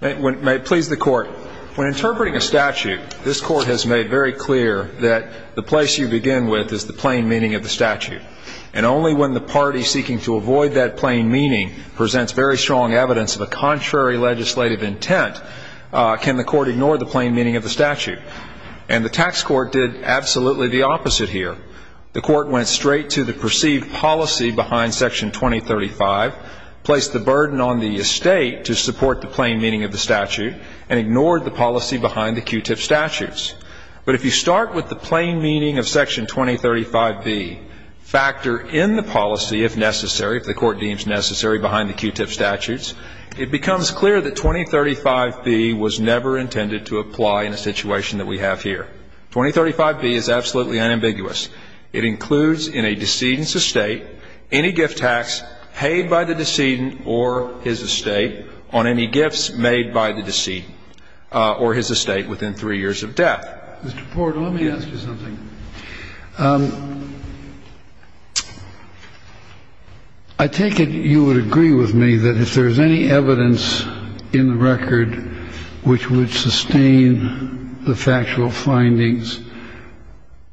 When interpreting a statute, this Court has made very clear that the place you begin with is the plain meaning of the statute. And only when the party seeking to avoid that plain meaning presents very strong evidence of a contrary legislative intent can the Court ignore the plain meaning of the statute. And the Tax Court did absolutely the opposite here. The Court went straight to the perceived policy behind Section 2035, placed the burden on the estate to support the plain meaning of the statute, and ignored the policy behind the Q-tip statutes. But if you start with the plain meaning of Section 2035b, factor in the policy, if necessary, if the Court deems necessary, behind the Q-tip statutes, it becomes clear that 2035b was never intended to apply in a situation that we have here. 2035b is absolutely unambiguous. It includes in a decedent's estate any gift tax paid by the decedent or his estate on any gifts made by the decedent or his estate within three years of death. Mr. Porter, let me ask you something. I take it you would agree with me that if there is any evidence in the record which would sustain the factual findings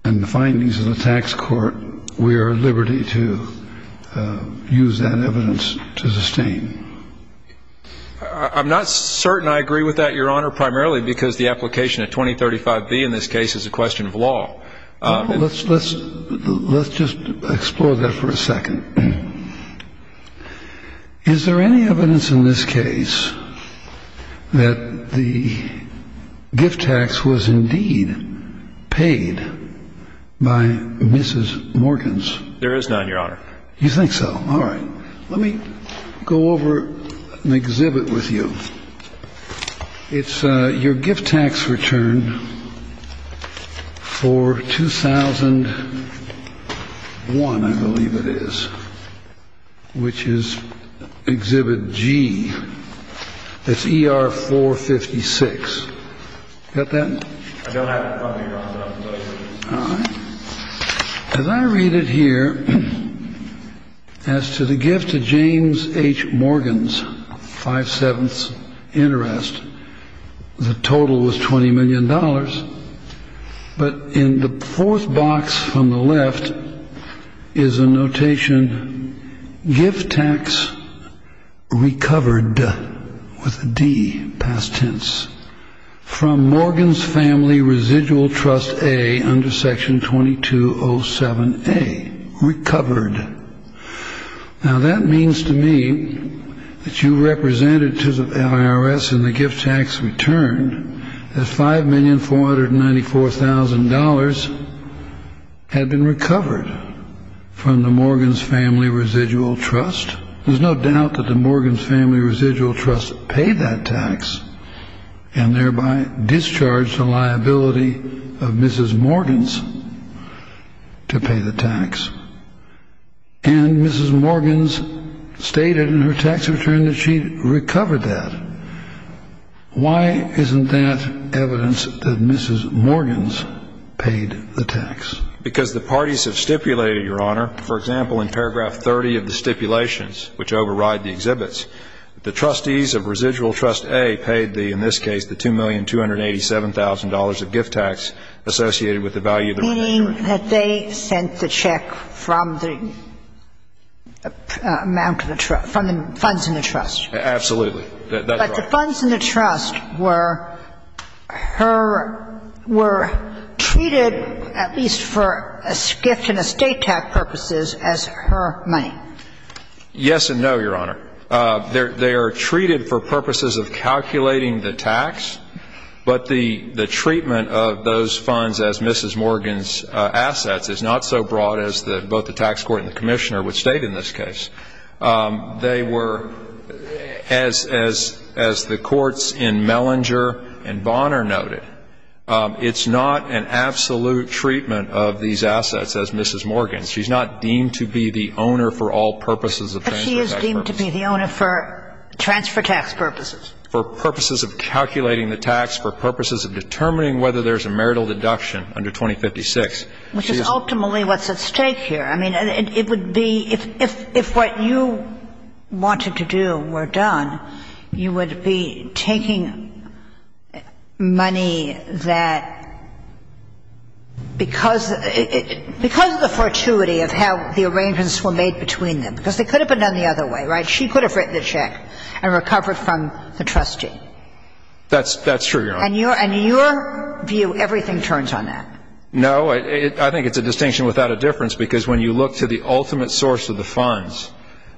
and the findings of the Tax Court, we are at liberty to use that evidence to sustain. I'm not certain I agree with that, Your Honor, primarily because the application of 2035b in this case is a question of law. Let's just explore that for a second. Is there any evidence in this case that the gift tax was indeed paid by Mrs. Morgans? There is none, Your Honor. You think so? All right. Let me go over an exhibit with you. It's your gift tax return for 2001, I believe it is, which is Exhibit G. It's ER 456. Got that? I don't have it in front of me, Your Honor. All right. As I read it here, as to the gift to James H. Morgans, five-sevenths interest, the total was $20 million. But in the fourth box on the left is a notation, gift tax recovered with a D, past tense, from Morgans Family Residual Trust A under Section 2207A. Recovered. Now that means to me that you represented to the IRS in the gift tax return that $5,494,000 had been recovered from the Morgans Family Residual Trust. There's no doubt that the Morgans Family Residual Trust paid that tax and thereby discharged the liability of Mrs. Morgans to pay the tax. And Mrs. Morgans stated in her tax return that she recovered that. Why isn't that evidence that Mrs. Morgans paid the tax? Because the parties have stipulated, Your Honor, for example, in paragraph 30 of the stipulations, which override the exhibits, the trustees of Residual Trust A paid the, in this case, the $2,287,000 of gift tax associated with the value of the residuals. Meaning that they sent the check from the amount of the trust, from the funds in the trust. Absolutely. But the funds in the trust were treated, at least for a gift and estate tax purposes, as her money. Yes and no, Your Honor. They are treated for purposes of calculating the tax, but the treatment of those funds as Mrs. Morgans' assets is not so broad as both the tax court and the commissioner would state in this case. They were, as the courts in Mellinger and Bonner noted, it's not an absolute treatment of these assets as Mrs. Morgans. She's not deemed to be the owner for all purposes of transfer tax purposes. But she is deemed to be the owner for transfer tax purposes. For purposes of calculating the tax, for purposes of determining whether there's a marital deduction under 2056. Which is ultimately what's at stake here. I mean, it would be, if what you wanted to do were done, you would be taking money that, because of the fortuity of how the arrangements were made between them. Because they could have been done the other way, right? She could have written the check and recovered from the trustee. That's true, Your Honor. And your view, everything turns on that. No, I think it's a distinction without a difference. Because when you look to the ultimate source of the funds,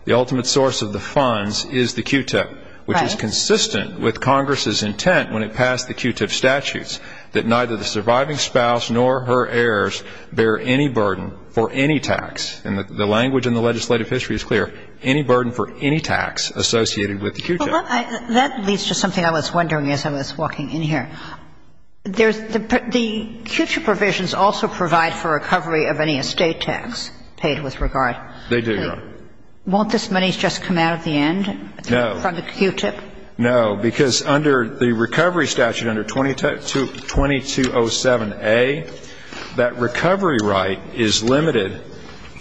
the ultimate source of the funds is the QTIP. Right. Which is consistent with Congress's intent when it passed the QTIP statutes, that neither the surviving spouse nor her heirs bear any burden for any tax. And the language in the legislative history is clear. Any burden for any tax associated with the QTIP. Well, that leads to something I was wondering as I was walking in here. The QTIP provisions also provide for recovery of any estate tax paid with regard. They do, Your Honor. Won't this money just come out at the end? No. From the QTIP? No. Because under the recovery statute, under 2207A, that recovery right is limited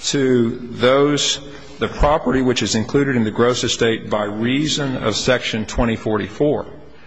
to those, the property which is included in the gross estate by reason of Section 2044.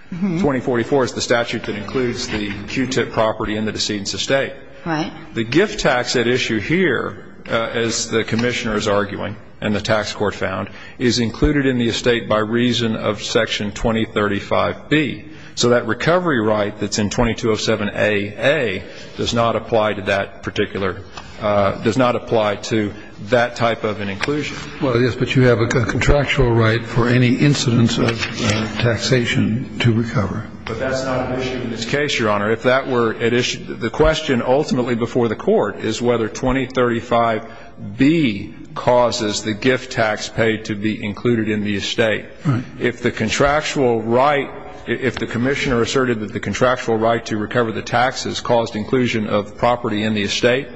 2044 is the statute that includes the QTIP property in the decedent's estate. Right. The gift tax at issue here, as the Commissioner is arguing and the tax court found, is included in the estate by reason of Section 2035B. So that recovery right that's in 2207AA does not apply to that particular, does not apply to that type of an inclusion. Well, yes, but you have a contractual right for any incidence of taxation to recover. But that's not at issue in this case, Your Honor. If that were at issue, the question ultimately before the court is whether 2035B causes the gift tax paid to be included in the estate. Right. If the contractual right, if the Commissioner asserted that the contractual right to recover the tax has caused inclusion of property in the estate,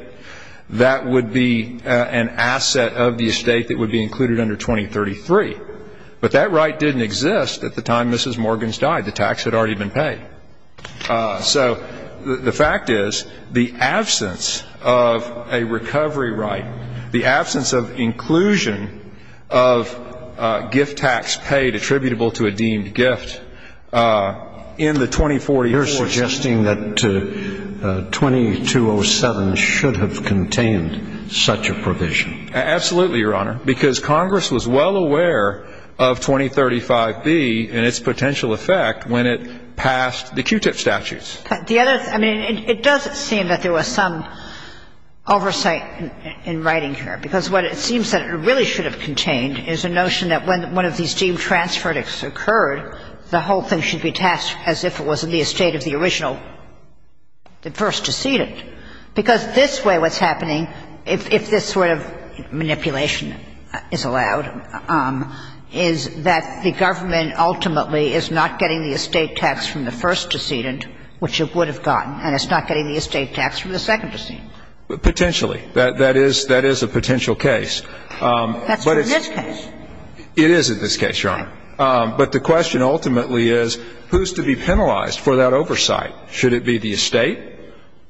that would be an asset of the estate that would be included under 2033. But that right didn't exist at the time Mrs. Morgans died. The tax had already been paid. So the fact is the absence of a recovery right, the absence of inclusion of gift tax paid attributable to a deemed gift in the 2044 statute. You're suggesting that 2207 should have contained such a provision. Absolutely, Your Honor, because Congress was well aware of 2035B and its potential effect when it passed the Q-tip statutes. The other thing, I mean, it does seem that there was some oversight in writing here, because what it seems that it really should have contained is a notion that when one of these deemed transferred occurred, the whole thing should be tasked as if it was in the estate of the original, the first decedent, because this way what's happening, if this sort of manipulation is allowed, is that the government ultimately is not getting the estate tax from the first decedent, which it would have gotten, and it's not getting the estate tax from the second decedent. Potentially. That is a potential case. That's for this case. It is in this case, Your Honor. But the question ultimately is who's to be penalized for that oversight? Should it be the estate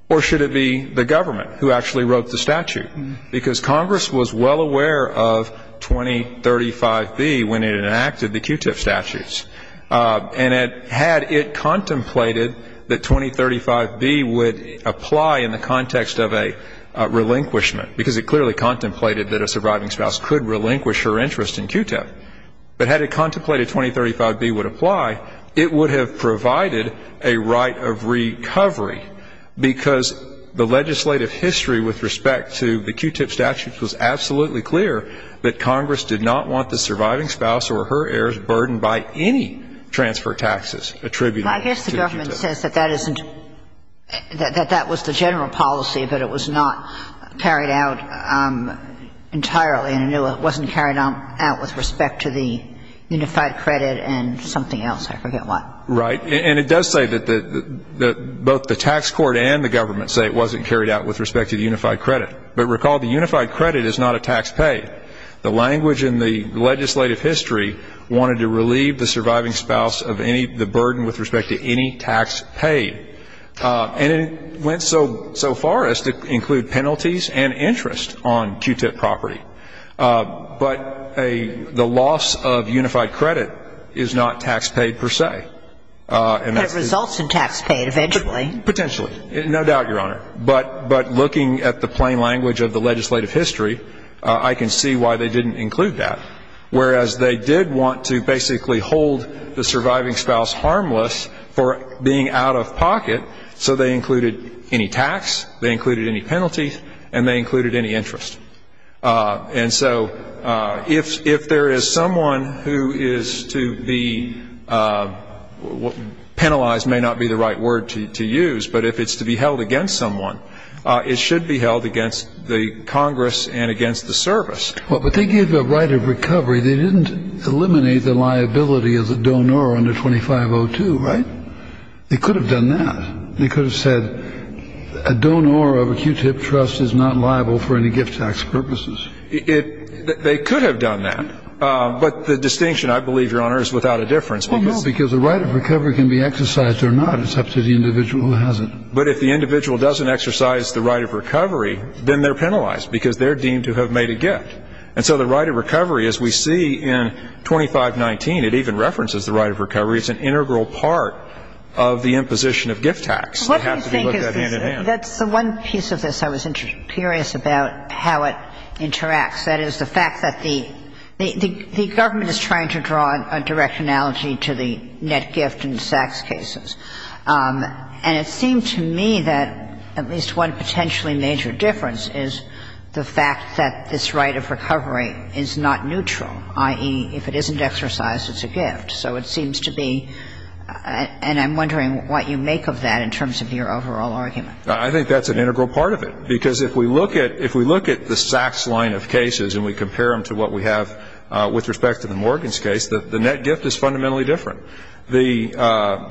or should it be the government who actually wrote the statute? Because Congress was well aware of 2035B when it enacted the Q-tip statutes. And had it contemplated that 2035B would apply in the context of a relinquishment, because it clearly contemplated that a surviving spouse could relinquish her interest in Q-tip, but had it contemplated 2035B would apply, it would have provided a right of recovery, because the legislative history with respect to the Q-tip statutes was absolutely clear that Congress did not want the surviving spouse or her heirs burdened by any transfer taxes attributed to the Q-tip. But it says that that isn't, that that was the general policy, but it was not carried out entirely. And it wasn't carried out with respect to the unified credit and something else. I forget what. Right. And it does say that both the tax court and the government say it wasn't carried out with respect to the unified credit. But recall the unified credit is not a tax pay. The language in the legislative history wanted to relieve the surviving spouse of any, the burden with respect to any tax pay. And it went so far as to include penalties and interest on Q-tip property. But the loss of unified credit is not tax pay per se. It results in tax pay eventually. Potentially. No doubt, Your Honor. But looking at the plain language of the legislative history, I can see why they didn't include that. Whereas they did want to basically hold the surviving spouse harmless for being out of pocket, so they included any tax, they included any penalties, and they included any interest. And so if there is someone who is to be penalized may not be the right word to use, but if it's to be held against someone, it should be held against the Congress and against the service. But they gave the right of recovery. They didn't eliminate the liability as a donor under 2502, right? They could have done that. They could have said a donor of a Q-tip trust is not liable for any gift tax purposes. They could have done that. But the distinction, I believe, Your Honor, is without a difference. Well, no, because the right of recovery can be exercised or not. It's up to the individual who has it. But if the individual doesn't exercise the right of recovery, then they're penalized because they're deemed to have made a gift. And so the right of recovery, as we see in 2519, it even references the right of recovery as an integral part of the imposition of gift tax. They have to be looked at hand-in-hand. That's the one piece of this I was curious about, how it interacts. That is, the fact that the government is trying to draw a direct analogy to the net gift and tax cases. And it seemed to me that at least one potentially major difference is the fact that this right of recovery is not neutral, i.e., if it isn't exercised, it's a gift. So it seems to be, and I'm wondering what you make of that in terms of your overall argument. I think that's an integral part of it. Because if we look at the Sachs line of cases and we compare them to what we have with respect to the Morgans case, the net gift is fundamentally different. The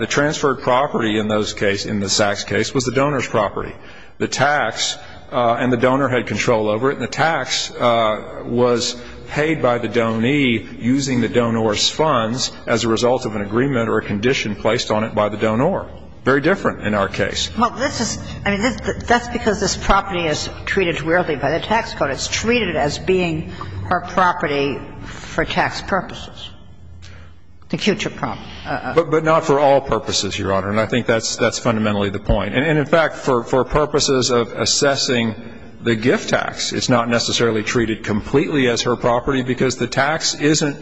transferred property in those cases, in the Sachs case, was the donor's property. The tax and the donor had control over it. And the tax was paid by the donee using the donor's funds as a result of an agreement or a condition placed on it by the donor. Very different in our case. Well, this is, I mean, that's because this property is treated weirdly by the tax code. It's treated as being her property for tax purposes. The QTIP property. But not for all purposes, Your Honor. And I think that's fundamentally the point. And, in fact, for purposes of assessing the gift tax, it's not necessarily treated completely as her property because the tax isn't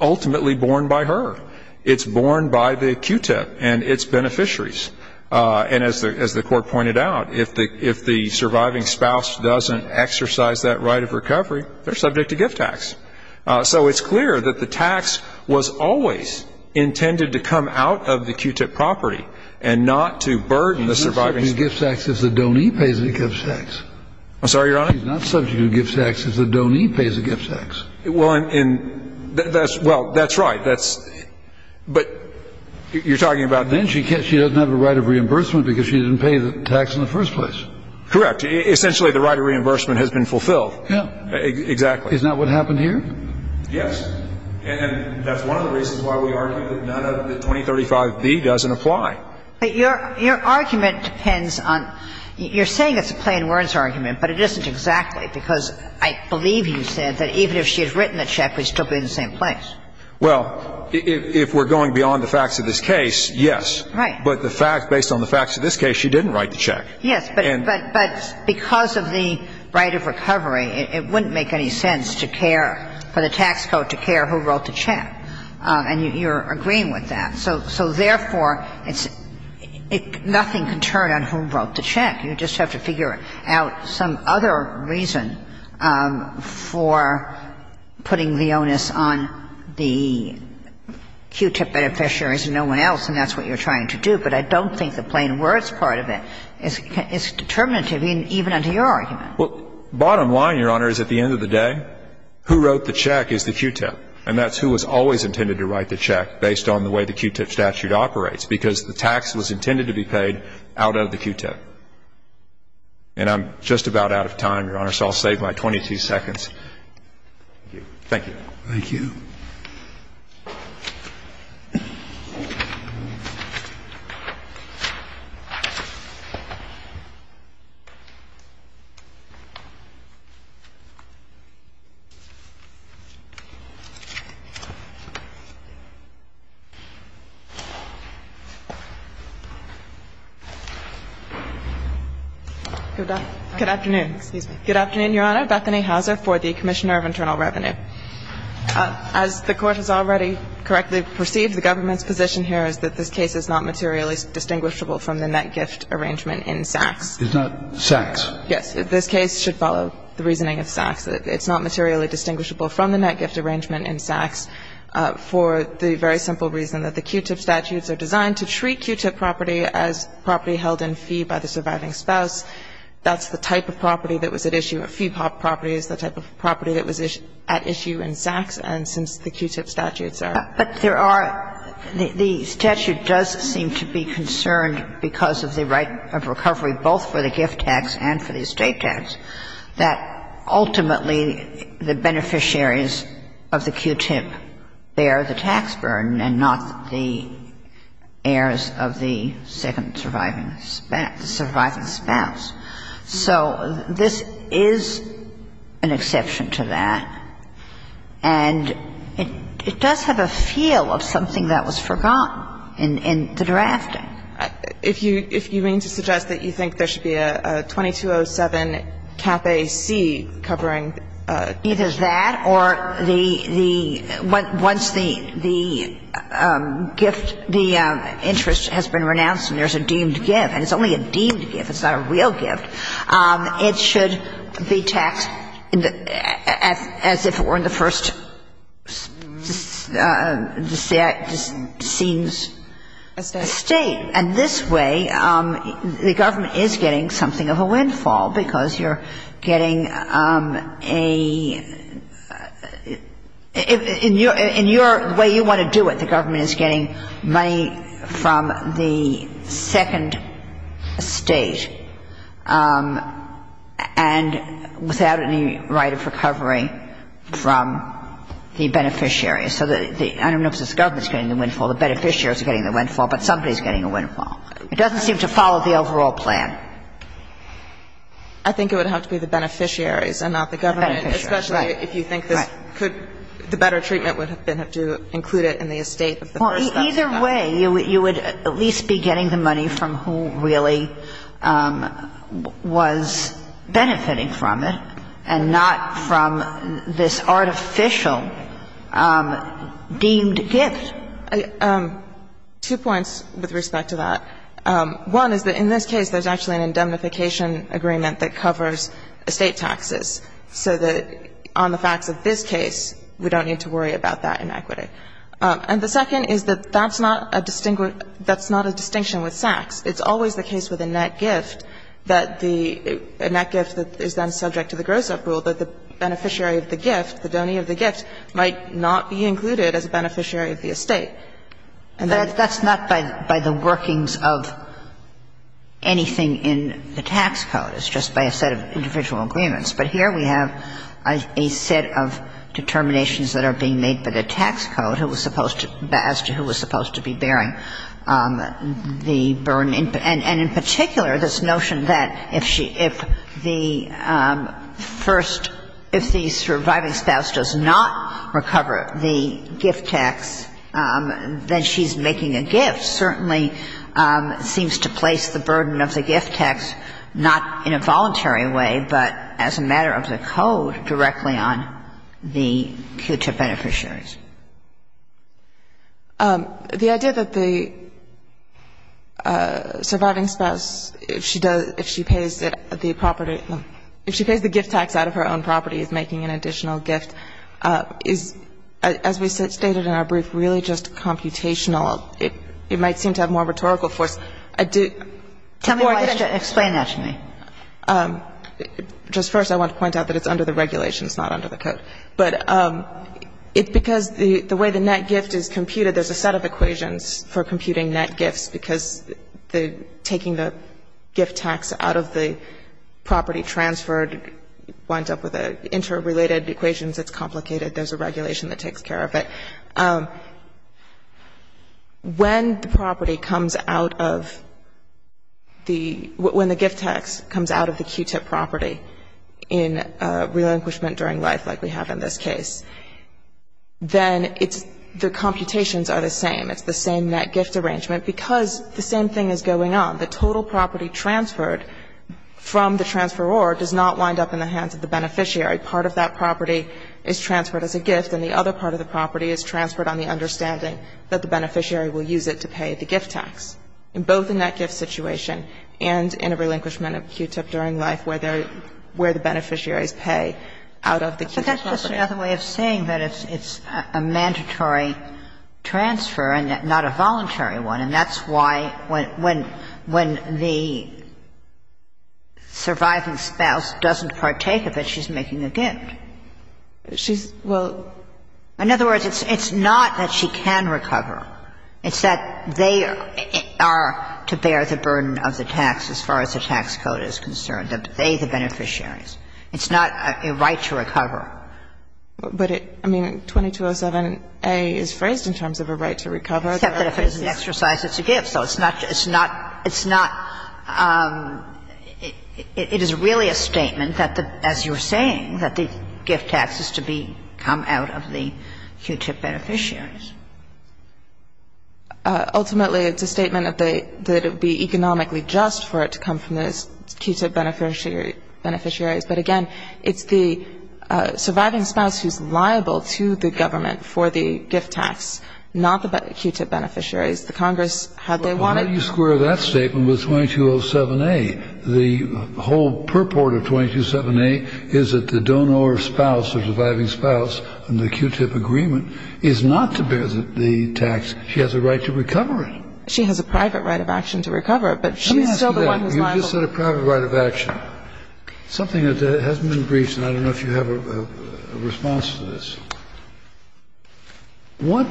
ultimately borne by her. It's borne by the QTIP and its beneficiaries. And as the Court pointed out, if the surviving spouse doesn't exercise that right of recovery, they're subject to gift tax. So it's clear that the tax was always intended to come out of the QTIP property and not to burden the surviving spouse. She's not subject to gift tax if the donee pays the gift tax. I'm sorry, Your Honor? She's not subject to gift tax if the donee pays the gift tax. Well, that's right. But you're talking about the donor. And then she doesn't have a right of reimbursement because she didn't pay the tax in the first place. Correct. Essentially, the right of reimbursement has been fulfilled. Yeah. Exactly. Is that what happened here? Yes. And that's one of the reasons why we argue that none of the 2035B doesn't apply. But your argument depends on you're saying it's a plain words argument, but it isn't exactly, because I believe you said that even if she had written the check, we'd still be in the same place. Well, if we're going beyond the facts of this case, yes. Right. But the fact, based on the facts of this case, she didn't write the check. Yes. But because of the right of recovery, it wouldn't make any sense to care for the tax code to care who wrote the check. And you're agreeing with that. So therefore, nothing can turn on who wrote the check. You just have to figure out some other reason for putting the onus on the Q-tip beneficiaries and no one else, and that's what you're trying to do. But I don't think the plain words part of it is determinative even under your argument. Well, bottom line, Your Honor, is at the end of the day, who wrote the check is the Q-tip, and that's who was always intended to write the check based on the way the Q-tip statute operates, because the tax was intended to be paid out of the Q-tip. And I'm just about out of time, Your Honor, so I'll save my 22 seconds. Thank you. Good afternoon. Excuse me. Good afternoon, Your Honor. Bethany Hauser for the Commissioner of Internal Revenue. As the Court has already correctly perceived, the government's position here is that this case is not materially distinguishable from the net gift arrangement in Sachs. It's not Sachs? Yes. This case should follow the reasoning of Sachs. It's not materially distinguishable from the net gift arrangement in Sachs for the very simple reason that the Q-tip statutes are designed to treat Q-tip property as property held in fee by the surviving spouse. That's the type of property that was at issue. A fee-pop property is the type of property that was at issue in Sachs. And since the Q-tip statutes are. But there are the statute does seem to be concerned because of the right of recovery both for the gift tax and for the estate tax, that ultimately the beneficiaries of the Q-tip bear the tax burden and not the heirs of the second surviving spouse. So this is an exception to that. And it does have a feel of something that was forgotten in the drafting. If you mean to suggest that you think there should be a 2207 cafe C covering. Either that or the, the, once the, the gift, the interest has been renounced and there's a deemed gift, and it's only a deemed gift, it's not a real gift, it should be taxed as if it were in the first seems estate. And this way the government is getting something of a windfall because you're getting a, in your, in your way you want to do it, the government is getting money from the second estate and without any right of recovery from the beneficiaries. So the, I don't know if it's the government that's getting the windfall, the beneficiaries are getting the windfall, but somebody's getting the windfall. It doesn't seem to follow the overall plan. I think it would have to be the beneficiaries and not the government, especially if you think this could, the better treatment would have been to include it in the estate. Either way, you would at least be getting the money from who really was benefiting from it and not from this artificial deemed gift. Two points with respect to that. One is that in this case there's actually an indemnification agreement that covers estate taxes, so that on the facts of this case we don't need to worry about that inequity. And the second is that that's not a distinct, that's not a distinction with Sachs. It's always the case with a net gift that the, a net gift that is then subject to the gross up rule that the beneficiary of the gift, the donor of the gift, might not be included as a beneficiary of the estate. And that's not by the workings of anything in the tax code. It's just by a set of individual agreements. But here we have a set of determinations that are being made by the tax code who was supposed to, as to who was supposed to be bearing the burden. And in particular, this notion that if the first, if the surviving spouse does not recover the gift tax, then she's making a gift certainly seems to place the burden of the gift tax not in a voluntary way, but as a matter of the code directly on the QTIP beneficiaries. The idea that the surviving spouse, if she does, if she pays the property, if she And so it's, as we stated in our brief, really just computational. It might seem to have more rhetorical force. I do. Kagan. Tell me why. Explain that to me. Just first, I want to point out that it's under the regulations, not under the code. But it's because the way the net gift is computed, there's a set of equations for computing net gifts because taking the gift tax out of the property transferred winds up with interrelated equations. It's complicated. There's a regulation that takes care of it. When the property comes out of the, when the gift tax comes out of the QTIP property in relinquishment during life, like we have in this case, then it's, the computations are the same. It's the same net gift arrangement because the same thing is going on. The total property transferred from the transferor does not wind up in the hands of the beneficiary. Part of that property is transferred as a gift, and the other part of the property is transferred on the understanding that the beneficiary will use it to pay the gift tax, in both the net gift situation and in a relinquishment of QTIP during life where there, where the beneficiaries pay out of the QTIP property. But that's just another way of saying that it's a mandatory transfer and not a voluntary one, and that's why when, when the surviving spouse doesn't partake of it, she's making a gift. She's, well, in other words, it's not that she can recover. It's that they are to bear the burden of the tax as far as the tax code is concerned, they, the beneficiaries. It's not a right to recover. But it, I mean, 2207a is phrased in terms of a right to recover. Except that if it's an exercise, it's a gift. So it's not, it's not, it's not, it is really a statement that the, as you were saying, that the gift tax is to be, come out of the QTIP beneficiaries. Ultimately, it's a statement that they, that it would be economically just for it to come out of the QTIP beneficiaries. But again, it's the surviving spouse who's liable to the government for the gift tax, not the QTIP beneficiaries. The Congress had, they wanted. Well, how do you square that statement with 2207a? The whole purport of 2207a is that the donor spouse or surviving spouse in the QTIP agreement is not to bear the tax. She has a right to recover it. She has a private right of action to recover it, but she's still the one who's liable. You just said a private right of action. Something that hasn't been briefed, and I don't know if you have a response to this. What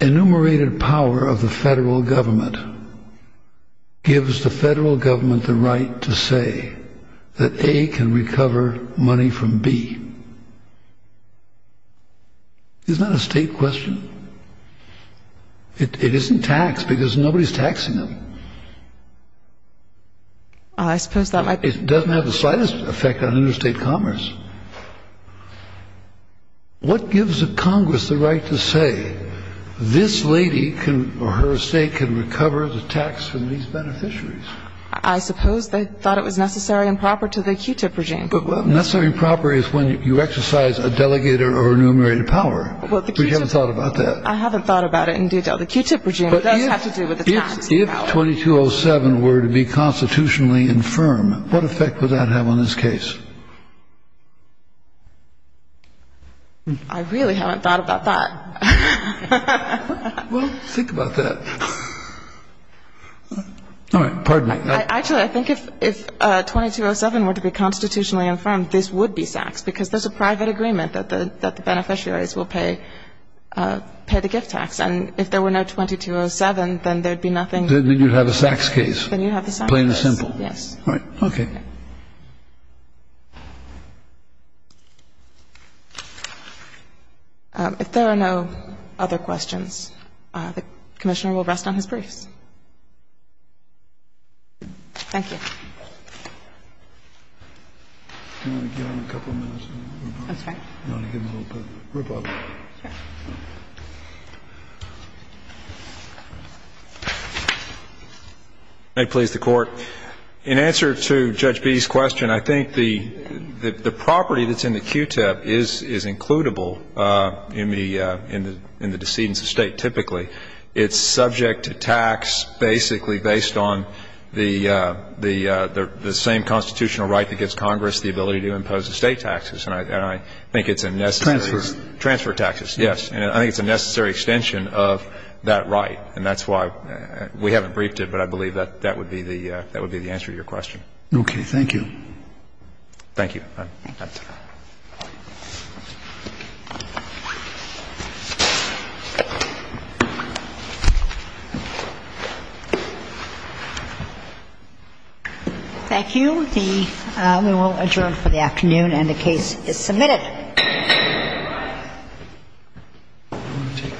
enumerated power of the federal government gives the federal government the right to say that A can recover money from B? Isn't that a state question? It isn't taxed because nobody's taxing them. I suppose that might be. It doesn't have the slightest effect on interstate commerce. What gives the Congress the right to say this lady can, or her estate can recover the tax from these beneficiaries? I suppose they thought it was necessary and proper to the QTIP regime. Necessary and proper is when you exercise a delegated or enumerated power. But you haven't thought about that. I haven't thought about it in detail. The QTIP regime does have to do with the tax. If 2207 were to be constitutionally infirm, what effect would that have on this case? I really haven't thought about that. Well, think about that. All right. Pardon me. Actually, I think if 2207 were to be constitutionally infirm, this would be taxed because there's a private agreement that the beneficiaries will pay the gift tax. And if there were no 2207, then there'd be nothing. Then you'd have a SAX case. Then you'd have a SAX case. Plain and simple. Yes. All right. Okay. If there are no other questions, the Commissioner will rest on his briefs. Thank you. Can I give him a couple minutes? I'm sorry? Can I give him a little bit of rebuttal? Sure. May it please the Court. In answer to Judge B's question, I think the property that's in the QTIP is includable in the decedent's estate typically. It's subject to tax basically based on the same constitutional right that gives Congress the ability to impose estate taxes. And I think it's a necessary. Transfer. Transfer taxes, yes. And I think it's a necessary extension of that right. And that's why we haven't briefed it, but I believe that that would be the answer to your question. Okay. Thank you. Thank you. Thank you. We will adjourn for the afternoon, and the case is submitted. All right. Do you want to take this? Thank you.